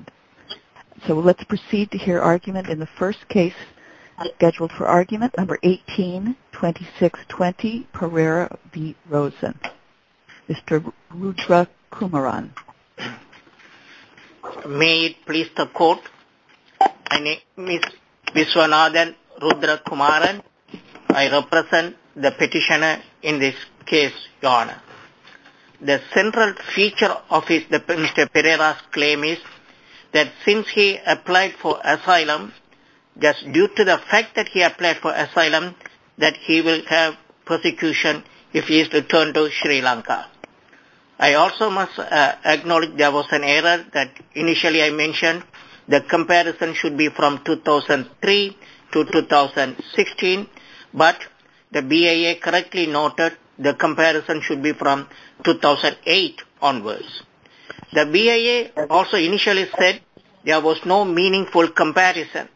Mr. Rudrakumaran May it please the court, my name is Viswanathan Rudrakumaran. I represent the petitioner in this case, Your Honor. The central feature of Mr. Perera's claim is that since he applied for asylum, just due to the fact that he applied for asylum, that he will have persecution if he is returned to Sri Lanka. I also must acknowledge there was an error that initially I mentioned the comparison should be from 2003 to 2016, but the BIA correctly noted the comparison should be from 2008 onwards. The BIA also initially said there was no meaningful comparison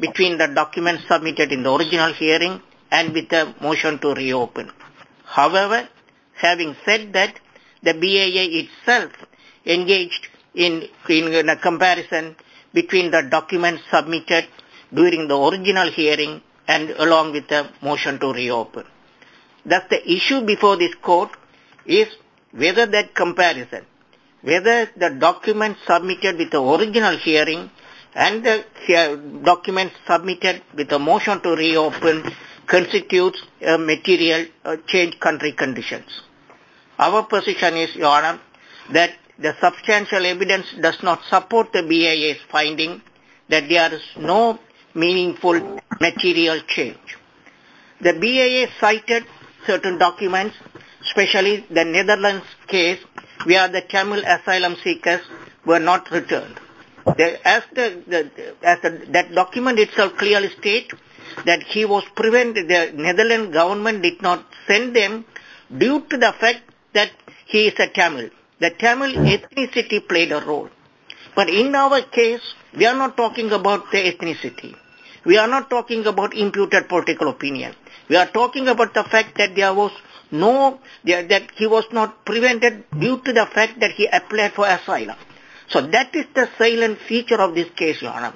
between the documents submitted in the original hearing and with the motion to reopen. However, having said that, the BIA itself engaged in a comparison between the documents submitted during the original hearing and along with the motion to reopen. Thus the issue before this court is whether that comparison, whether the documents submitted with the original hearing and the documents submitted with the motion to reopen constitutes a material change in country conditions. Our position is, Your Honor, that the substantial evidence does not support the BIA's finding that there is no meaningful material change. The BIA cited certain documents, especially the Netherlands case where the Tamil asylum seekers were not returned. As that document itself clearly states that he was prevented, the Netherlands government did not send them due to the fact that he is a Tamil. The Tamil ethnicity played a role. But in our case, we are not talking about the ethnicity. We are not talking about imputed political opinion. We are talking about the fact that he was not prevented due to the fact that he applied for asylum. So that is the salient feature of this case, Your Honor.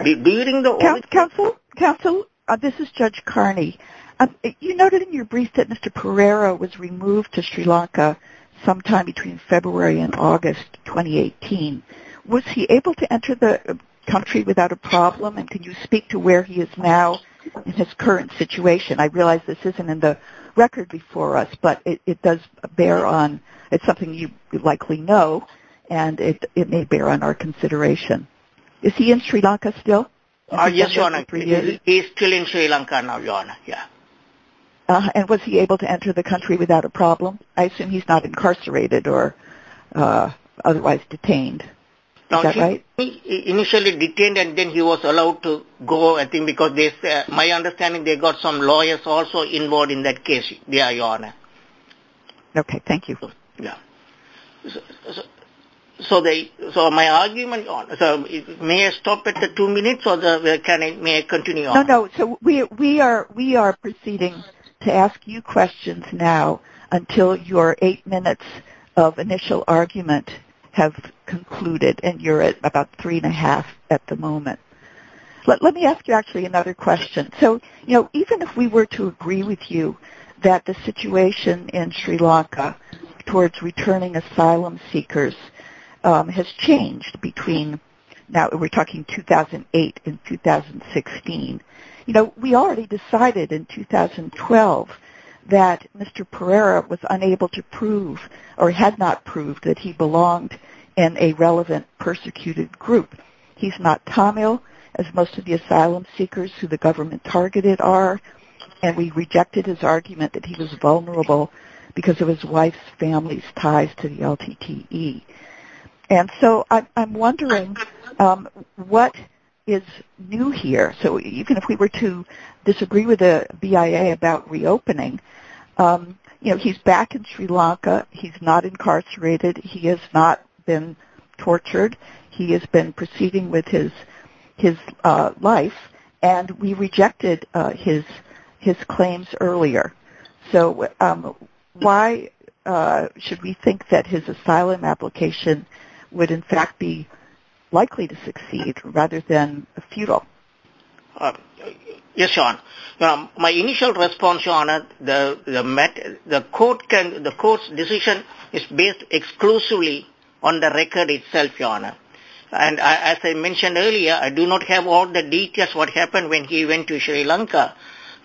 Bearing the... Counsel? Counsel? This is Judge Carney. You noted in your brief that Mr. Pereira was removed to Sri Lanka sometime between February and August 2018. Was he able to enter the country without a problem and can you speak to where he is now in his current situation? I realize this isn't in the record before us, but it does bear on, it's something you likely know and it may bear on our consideration. Is he in Sri Lanka still? Yes, Your Honor. He is still in Sri Lanka now, Your Honor, yeah. And was he able to enter the country without a problem? I assume he's not incarcerated or otherwise detained, is that right? Initially detained and then he was allowed to go, I think, because my understanding they got some lawyers also involved in that case, yeah, Your Honor. Okay, thank you. So my argument, Your Honor, may I stop at the two minutes or may I continue, Your Honor? No, no. So we are proceeding to ask you questions now until your eight minutes of initial argument have concluded and you're at about three and a half at the moment. Let me ask you actually another question. So, you know, even if we were to agree with you that the situation in Sri Lanka towards returning asylum seekers has changed between, now we're talking 2008 and 2016, you know, we already decided in 2012 that Mr. Perera was unable to prove or had not proved that he belonged in a relevant persecuted group. He's not Tamil, as most of the asylum seekers who the government targeted are, and we rejected his argument that he was vulnerable because of his wife's family's ties to the LTTE. And so I'm wondering what is new here? So even if we were to disagree with the BIA about reopening, you know, he's back in Sri Lanka, he's not incarcerated, he has not been tortured. He has been proceeding with his life, and we rejected his claims earlier. So why should we think that his asylum application would in fact be likely to succeed rather than futile? Yes, Your Honor, my initial response, Your Honor, the court's decision is based exclusively on the record itself, Your Honor. And as I mentioned earlier, I do not have all the details what happened when he went to Sri Lanka.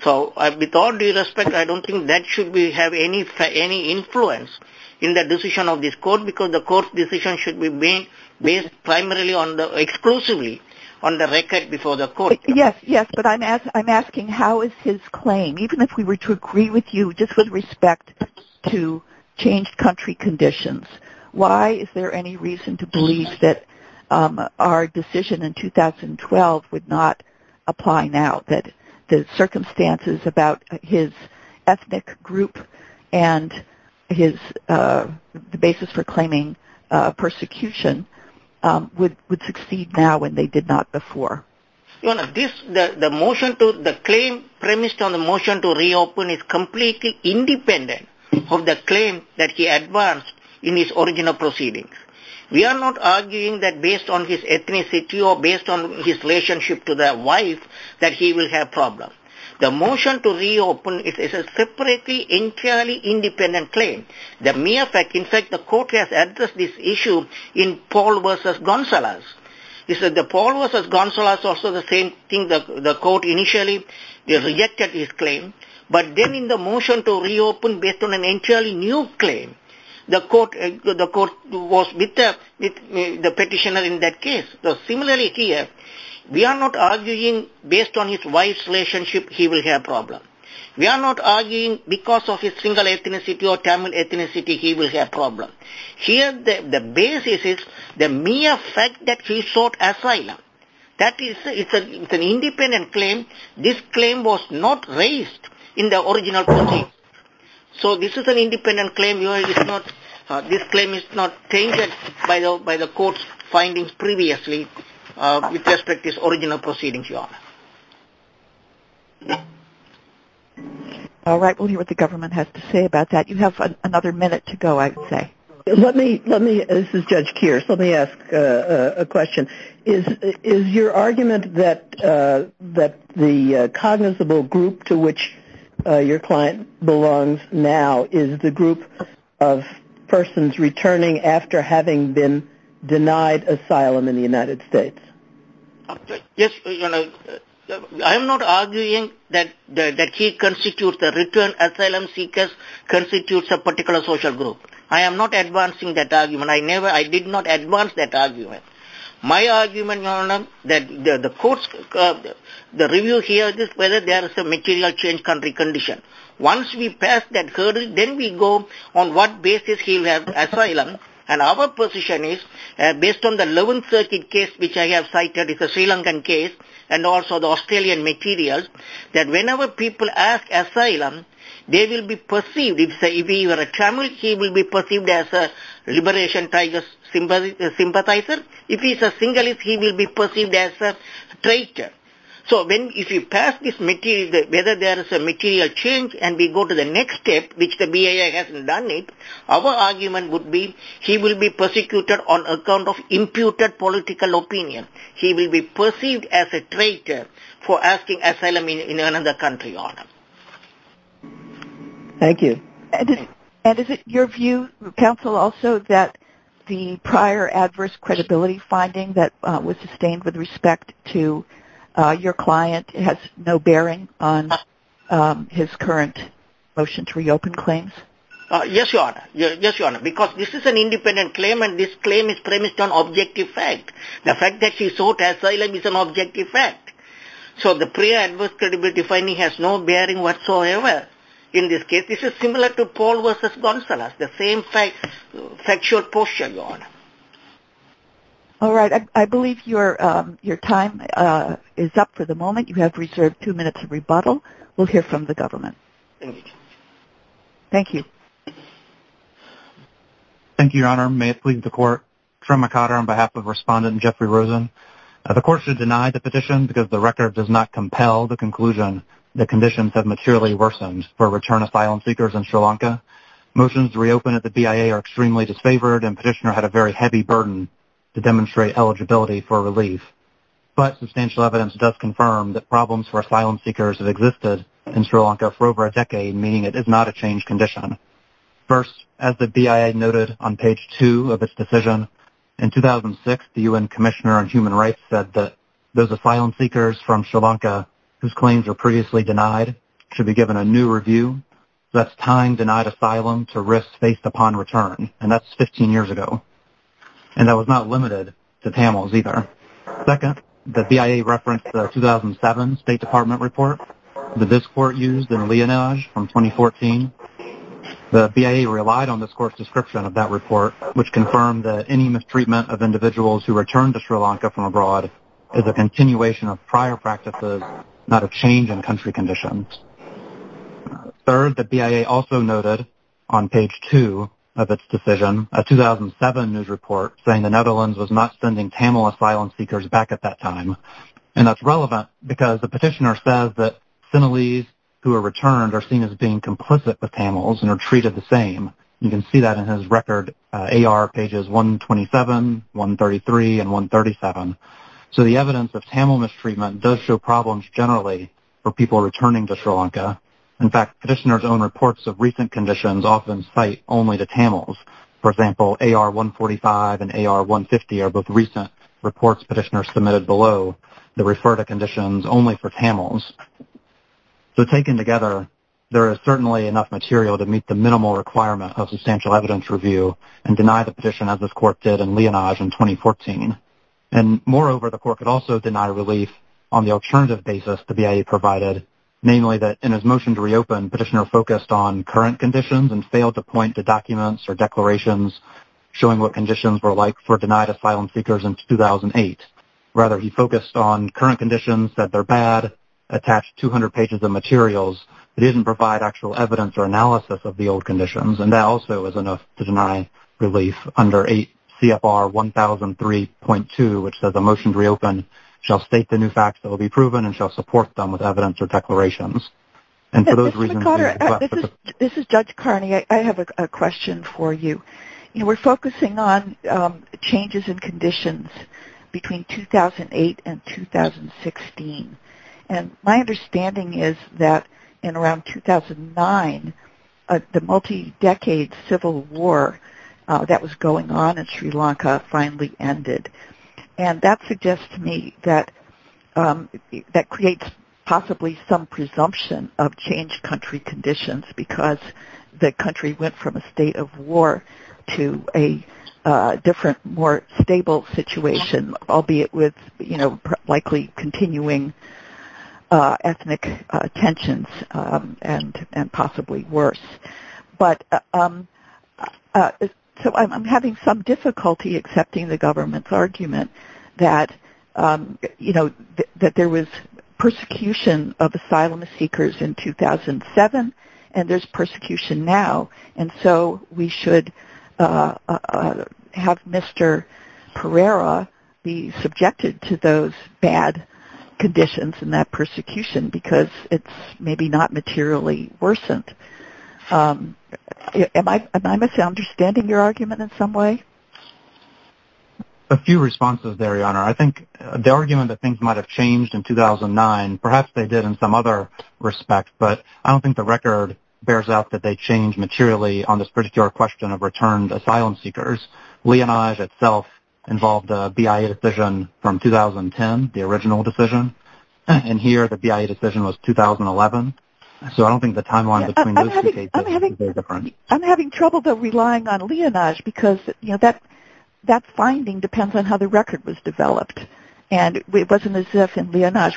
So with all due respect, I don't think that should have any influence in the decision of this court, because the court's decision should be based primarily on the, exclusively on the record before the court. Yes, yes, but I'm asking how is his claim, even if we were to agree with you just with respect to changed country conditions, why is there any reason to believe that our decision in 2012 would not apply now, that the circumstances about his ethnic group and his, the basis for claiming persecution would succeed now when they did not before? Your Honor, this, the motion to, the claim premised on the motion to reopen is completely independent of the claim that he advanced in his original proceedings. We are not arguing that based on his ethnicity or based on his relationship to the wife that he will have problems. The motion to reopen is a separately entirely independent claim. The mere fact, in fact, the court has addressed this issue in Paul v. Gonsalas. Paul v. Gonsalas also the same thing, the court initially rejected his claim, but then in the motion to reopen based on an entirely new claim, the court was with the petitioner in that case. So similarly here, we are not arguing based on his wife's relationship he will have problems. We are not arguing because of his single ethnicity or Tamil ethnicity he will have problems. Here the basis is the mere fact that he sought asylum. That is, it's an independent claim. This claim was not raised in the original proceedings. So this is an independent claim, Your Honor, it's not, this claim is not changed by the court's findings previously with respect to his original proceedings, Your Honor. All right, we'll hear what the government has to say about that. You have another minute to go, I'd say. Let me, let me, this is Judge Kears, let me ask a question. Is your argument that the cognizable group to which your client belongs now is the group of persons returning after having been denied asylum in the United States? Yes, Your Honor, I am not arguing that he constitutes the return asylum seekers constitutes a particular social group. I am not advancing that argument. I never, I did not advance that argument. My argument, Your Honor, that the court's, the review here is whether there is a material change in the condition. Once we pass that hearing, then we go on what basis he will have asylum. And our position is, based on the 11th Circuit case, which I have cited, it's a Sri Lankan case, and also the Australian materials, that whenever people ask asylum, they will be perceived, if he were a Tamil, he will be perceived as a liberation tiger sympathizer. If he's a Sinhalese, he will be perceived as a traitor. So when, if you pass this material, whether there is a material change, and we go to the He will be persecuted on account of imputed political opinion. He will be perceived as a traitor for asking asylum in another country, Your Honor. Thank you. And is it your view, counsel, also that the prior adverse credibility finding that was sustained with respect to your client has no bearing on his current motion to reopen claims? Yes, Your Honor. Yes, Your Honor. Because this is an independent claim, and this claim is premised on objective fact. The fact that he sought asylum is an objective fact. So the prior adverse credibility finding has no bearing whatsoever. In this case, this is similar to Paul v. Gonzalez, the same factual posture, Your Honor. All right. I believe your time is up for the moment. You have reserved two minutes of rebuttal. We'll hear from the government. Thank you. Thank you, Your Honor. May it please the Court, Trimma Cotter on behalf of Respondent Jeffrey Rosen. The Court should deny the petition because the record does not compel the conclusion that conditions have maturely worsened for return asylum seekers in Sri Lanka. Motions to reopen at the BIA are extremely disfavored, and Petitioner had a very heavy burden to demonstrate eligibility for relief. But substantial evidence does confirm that problems for asylum seekers have existed in Sri Lanka, meaning it is not a changed condition. First, as the BIA noted on page two of its decision, in 2006, the UN Commissioner on Human Rights said that those asylum seekers from Sri Lanka whose claims were previously denied should be given a new review. So that's time denied asylum to risks faced upon return, and that's 15 years ago. And that was not limited to Tamils either. Second, the BIA referenced the 2007 State Department report that this Court used in the case of Vianaj from 2014. The BIA relied on this Court's description of that report, which confirmed that any mistreatment of individuals who return to Sri Lanka from abroad is a continuation of prior practices, not a change in country conditions. Third, the BIA also noted on page two of its decision, a 2007 news report saying the Netherlands was not sending Tamil asylum seekers back at that time, and that's relevant because the petitioner says that Sinhalese who are returned are seen as being complicit with Tamils and are treated the same. You can see that in his record, AR pages 127, 133, and 137. So the evidence of Tamil mistreatment does show problems generally for people returning to Sri Lanka. In fact, petitioners' own reports of recent conditions often cite only to Tamils. For example, AR 145 and AR 150 are both recent reports petitioners submitted below that refer to conditions only for Tamils. So taken together, there is certainly enough material to meet the minimal requirement of substantial evidence review and deny the petition as this Court did in Vianaj in 2014. And moreover, the Court could also deny relief on the alternative basis the BIA provided, namely that in his motion to reopen, petitioner focused on current conditions and failed to point to documents or declarations showing what conditions were like for denied asylum seekers in 2008. Rather, he focused on current conditions, said they're bad, attached 200 pages of materials that didn't provide actual evidence or analysis of the old conditions, and that also is enough to deny relief under CFR 1003.2, which says the motion to reopen shall state the new facts that will be proven and shall support them with evidence or declarations. And for those reasons... This is Judge Carney, I have a question for you. We're focusing on changes in conditions between 2008 and 2016. And my understanding is that in around 2009, the multi-decade civil war that was going on in Sri Lanka finally ended. And that suggests to me that that creates possibly some presumption of changed country conditions, because the country went from a state of war to a different, more stable situation, albeit with likely continuing ethnic tensions, and possibly worse. But I'm having some difficulty accepting the government's argument that there was persecution of asylum seekers in 2007, and there's persecution now. And so we should have Mr. Pereira be subjected to those bad conditions and that persecution, because it's maybe not materially worsened. Am I misunderstanding your argument in some way? A few responses there, Your Honor. I think the argument that things might have changed in 2009, perhaps they did in some other respect, but I don't think the record bears out that they changed materially on this particular question of returned asylum seekers. Leonage itself involved a BIA decision from 2010, the original decision. And here, the BIA decision was 2011. So I don't think the timeline between those two cases is very different. I'm having trouble, though, relying on Leonage, because that finding depends on how the record was developed. And it wasn't as if in Leonage,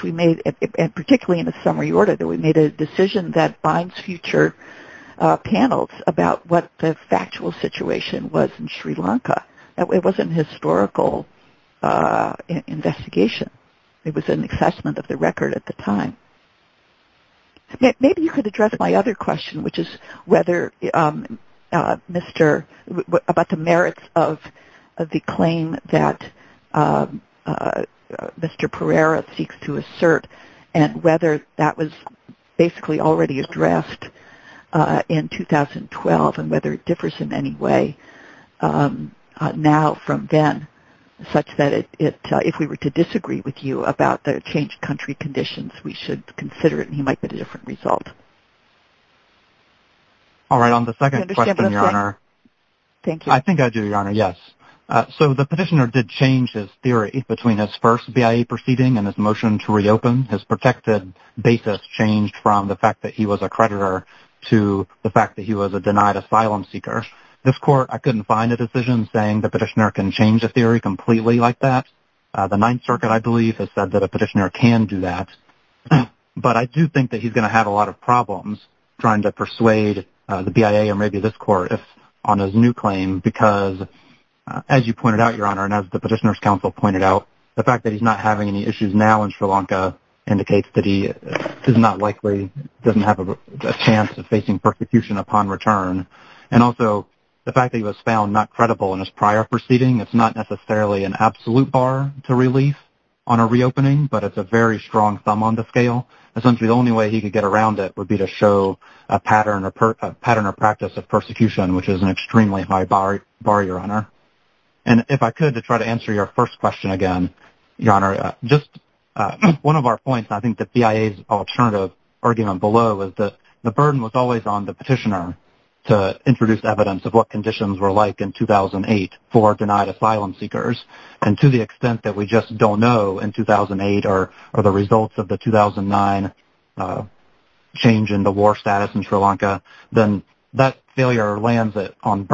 particularly in the summary order, that we made a decision that binds future panels about what the factual situation was in Sri Lanka. It wasn't a historical investigation. It was an assessment of the record at the time. Maybe you could address my other question, which is about the merits of the claim that Mr. Pereira seeks to assert, and whether that was basically already addressed in 2012, and whether it differs in any way now from then, such that if we were to disagree with you about the changed country conditions, we should consider it, and he might get a different result. All right. On the second question, Your Honor, I think I do, Your Honor, yes. So the petitioner did change his theory between his first BIA proceeding and his motion to reopen. His protected basis changed from the fact that he was a creditor to the fact that he was a denied asylum seeker. This court, I couldn't find a decision saying the petitioner can change a theory completely like that. The Ninth Circuit, I believe, has said that a petitioner can do that. But I do think that he's going to have a lot of problems trying to persuade the BIA, or maybe this court, on his new claim, because, as you pointed out, Your Honor, and as the Petitioner's Counsel pointed out, the fact that he's not having any issues now in Sri Lanka indicates that he is not likely, doesn't have a chance of facing persecution upon return. And also, the fact that he was found not credible in his prior proceeding, it's not necessarily an absolute bar to relief on a reopening, but it's a very strong thumb on the scale. Essentially, the only way he could get around it would be to show a pattern or practice of persecution, which is an extremely high bar, Your Honor. And if I could, to try to answer your first question again, Your Honor, just one of our points, and I think the BIA's alternative argument below, is that the burden was always on the petitioner to introduce evidence of what conditions were like in 2008 for denied asylum seekers. And to the extent that we just don't know in 2008 or the results of the 2009 change in the war status in Sri Lanka, then that failure lands it on,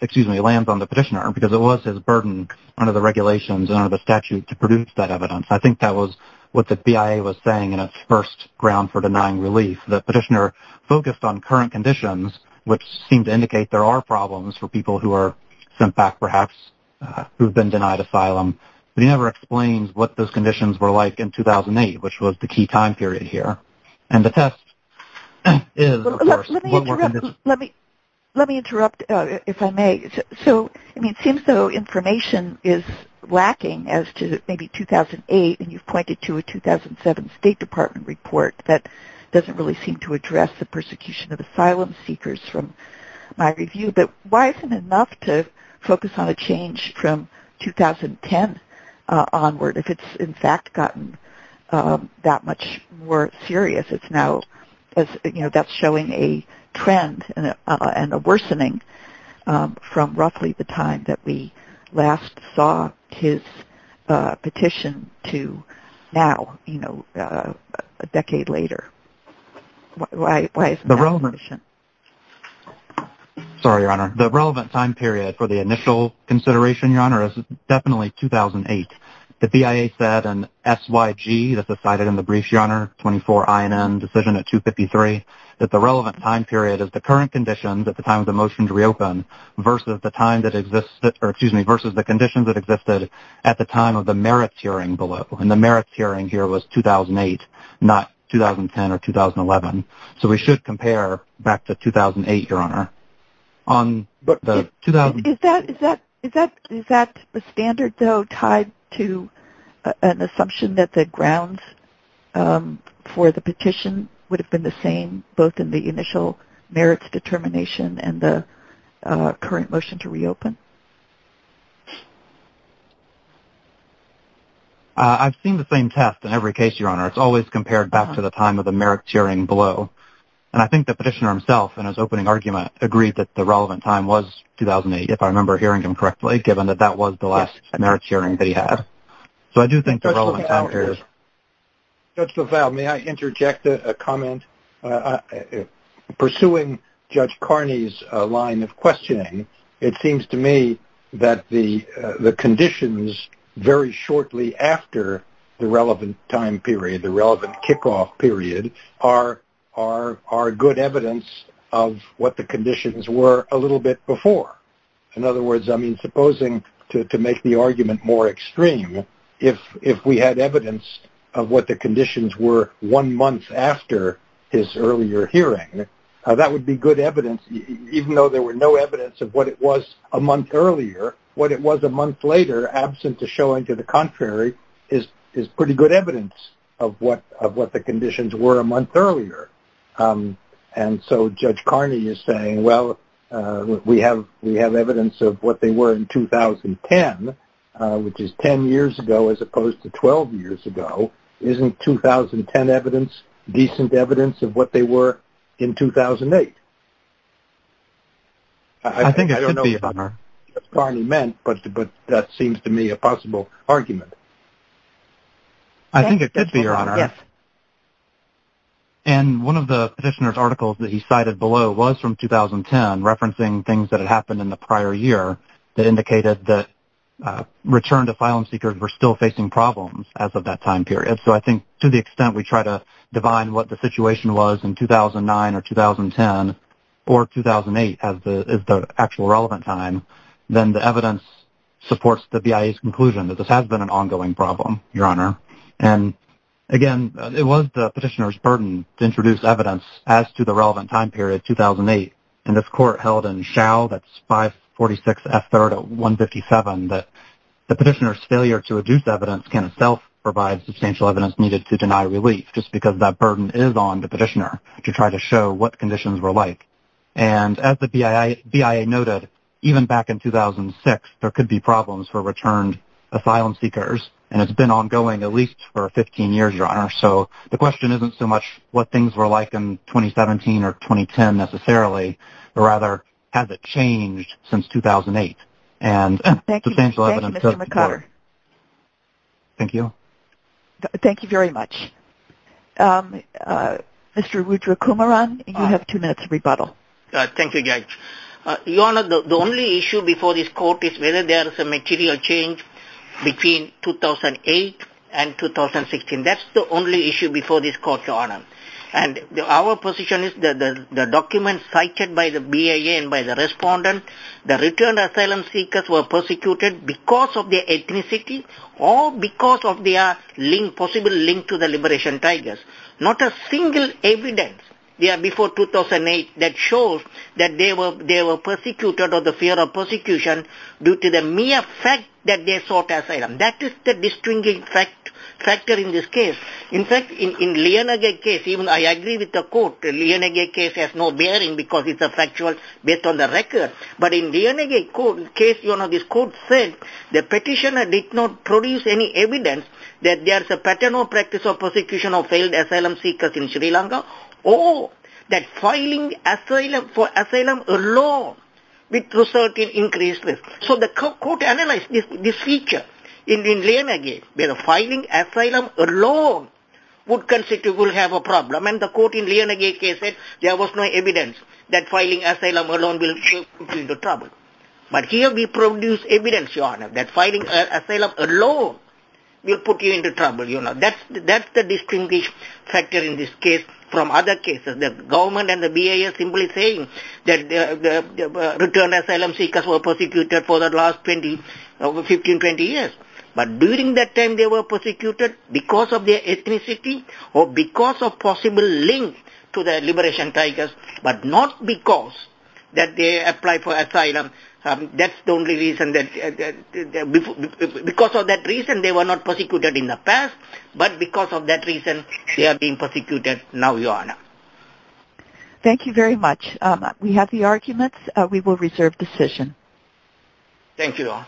excuse me, lands on the petitioner because it was his burden under the regulations and under the statute to produce that evidence. I think that was what the BIA was saying in its first ground for denying relief. The petitioner focused on current conditions, which seemed to indicate there are problems for people who are sent back, perhaps, who've been denied asylum, but he never explains what those conditions were like in 2008, which was the key time period here. And the test is, of course, one more condition. Let me interrupt, if I may. So, I mean, it seems though information is lacking as to maybe 2008, and you've pointed to a 2007 State Department report that doesn't really seem to address the persecution of asylum seekers from my review, but why isn't enough to focus on a change from 2010 onward if it's, in fact, gotten that much more serious? It's now, you know, that's showing a trend and a worsening from roughly the time that we last saw his petition to now, you know, a decade later. Why isn't that a condition? Sorry, Your Honor. The relevant time period for the initial consideration, Your Honor, is definitely 2008. The BIA said, and SYG, this is cited in the brief, Your Honor, 24INN decision at 253, that the relevant time period is the current conditions at the time of the motion to reopen versus the time that existed, or excuse me, versus the conditions that existed at the time of the merits hearing below. And the merits hearing here was 2008, not 2010 or 2011. So we should compare back to 2008, Your Honor. Is that a standard, though, tied to an assumption that the grounds for the petition would have been the same, both in the initial merits determination and the current motion to reopen? I've seen the same test in every case, Your Honor. It's always compared back to the time of the merits hearing below. And I think the petitioner himself, in his opening argument, agreed that the relevant time was 2008, if I remember hearing him correctly, given that that was the last merits hearing that he had. So I do think the relevant time period... Judge LaValle, may I interject a comment? Pursuing Judge Carney's line of questioning, it seems to me that the conditions very shortly after the relevant time period, the relevant kickoff period, are good evidence of what the conditions were a little bit before. In other words, I mean, supposing, to make the argument more extreme, if we had evidence of what the conditions were one month after his earlier hearing, that would be good evidence, even though there were no evidence of what it was a month earlier, what it was a month later, absent of showing to the contrary, is pretty good evidence of what the conditions were a month earlier. And so Judge Carney is saying, well, we have evidence of what they were in 2010, which is 10 years ago as opposed to 12 years ago. Isn't 2010 evidence decent evidence of what they were in 2008? I think it could be, Your Honor. I don't know what Judge Carney meant, but that seems to me a possible argument. I think it could be, Your Honor. Yes. And one of the petitioner's articles that he cited below was from 2010, referencing things that had happened in the prior year that indicated that return to file-in seekers were still facing problems as of that time period. So I think to the extent we try to define what the situation was in 2009 or 2010 or 2008 as the actual relevant time, then the evidence supports the BIA's conclusion that this has been an ongoing problem, Your Honor. And again, it was the petitioner's burden to introduce evidence as to the relevant time period, 2008. And this court held in Schau, that's 546 F3rd 157, that the petitioner's failure to deny relief, just because that burden is on the petitioner, to try to show what conditions were like. And as the BIA noted, even back in 2006, there could be problems for return to file-in seekers, and it's been ongoing at least for 15 years, Your Honor. So the question isn't so much what things were like in 2017 or 2010 necessarily, but rather, has it changed since 2008? Thank you, Mr. McCuller. Thank you. Thank you very much. Mr. Wudrakumaran, you have two minutes to rebuttal. Thank you, Judge. Your Honor, the only issue before this court is whether there is a material change between 2008 and 2016. That's the only issue before this court, Your Honor. And our position is that the documents cited by the BIA and by the respondent, the return of their possible link to the Liberation Tigers, not a single evidence before 2008 that shows that they were persecuted or the fear of persecution due to the mere fact that they sought asylum. That is the distinct factor in this case. In fact, in the Lienage case, even I agree with the court, the Lienage case has no bearing because it's factual based on the record, but in the Lienage case, Your Honor, this evidence that there is a pattern or practice of persecution of failed asylum seekers in Sri Lanka or that filing for asylum alone would result in increased risk. So the court analyzed this feature in the Lienage case where filing asylum alone would have a problem and the court in the Lienage case said there was no evidence that filing asylum alone will lead to trouble. But here we produce evidence, Your Honor, that filing asylum alone will put you into trouble. That's the distinct factor in this case from other cases. The government and the BIA are simply saying that return asylum seekers were persecuted for the last 15-20 years, but during that time they were persecuted because of their ethnicity or because of possible link to the Liberation Tigers, but not because that they applied for asylum. That's the only reason. Because of that reason they were not persecuted in the past, but because of that reason they are being persecuted now, Your Honor. Thank you very much. We have the arguments. We will reserve decision. Thank you, Your Honor.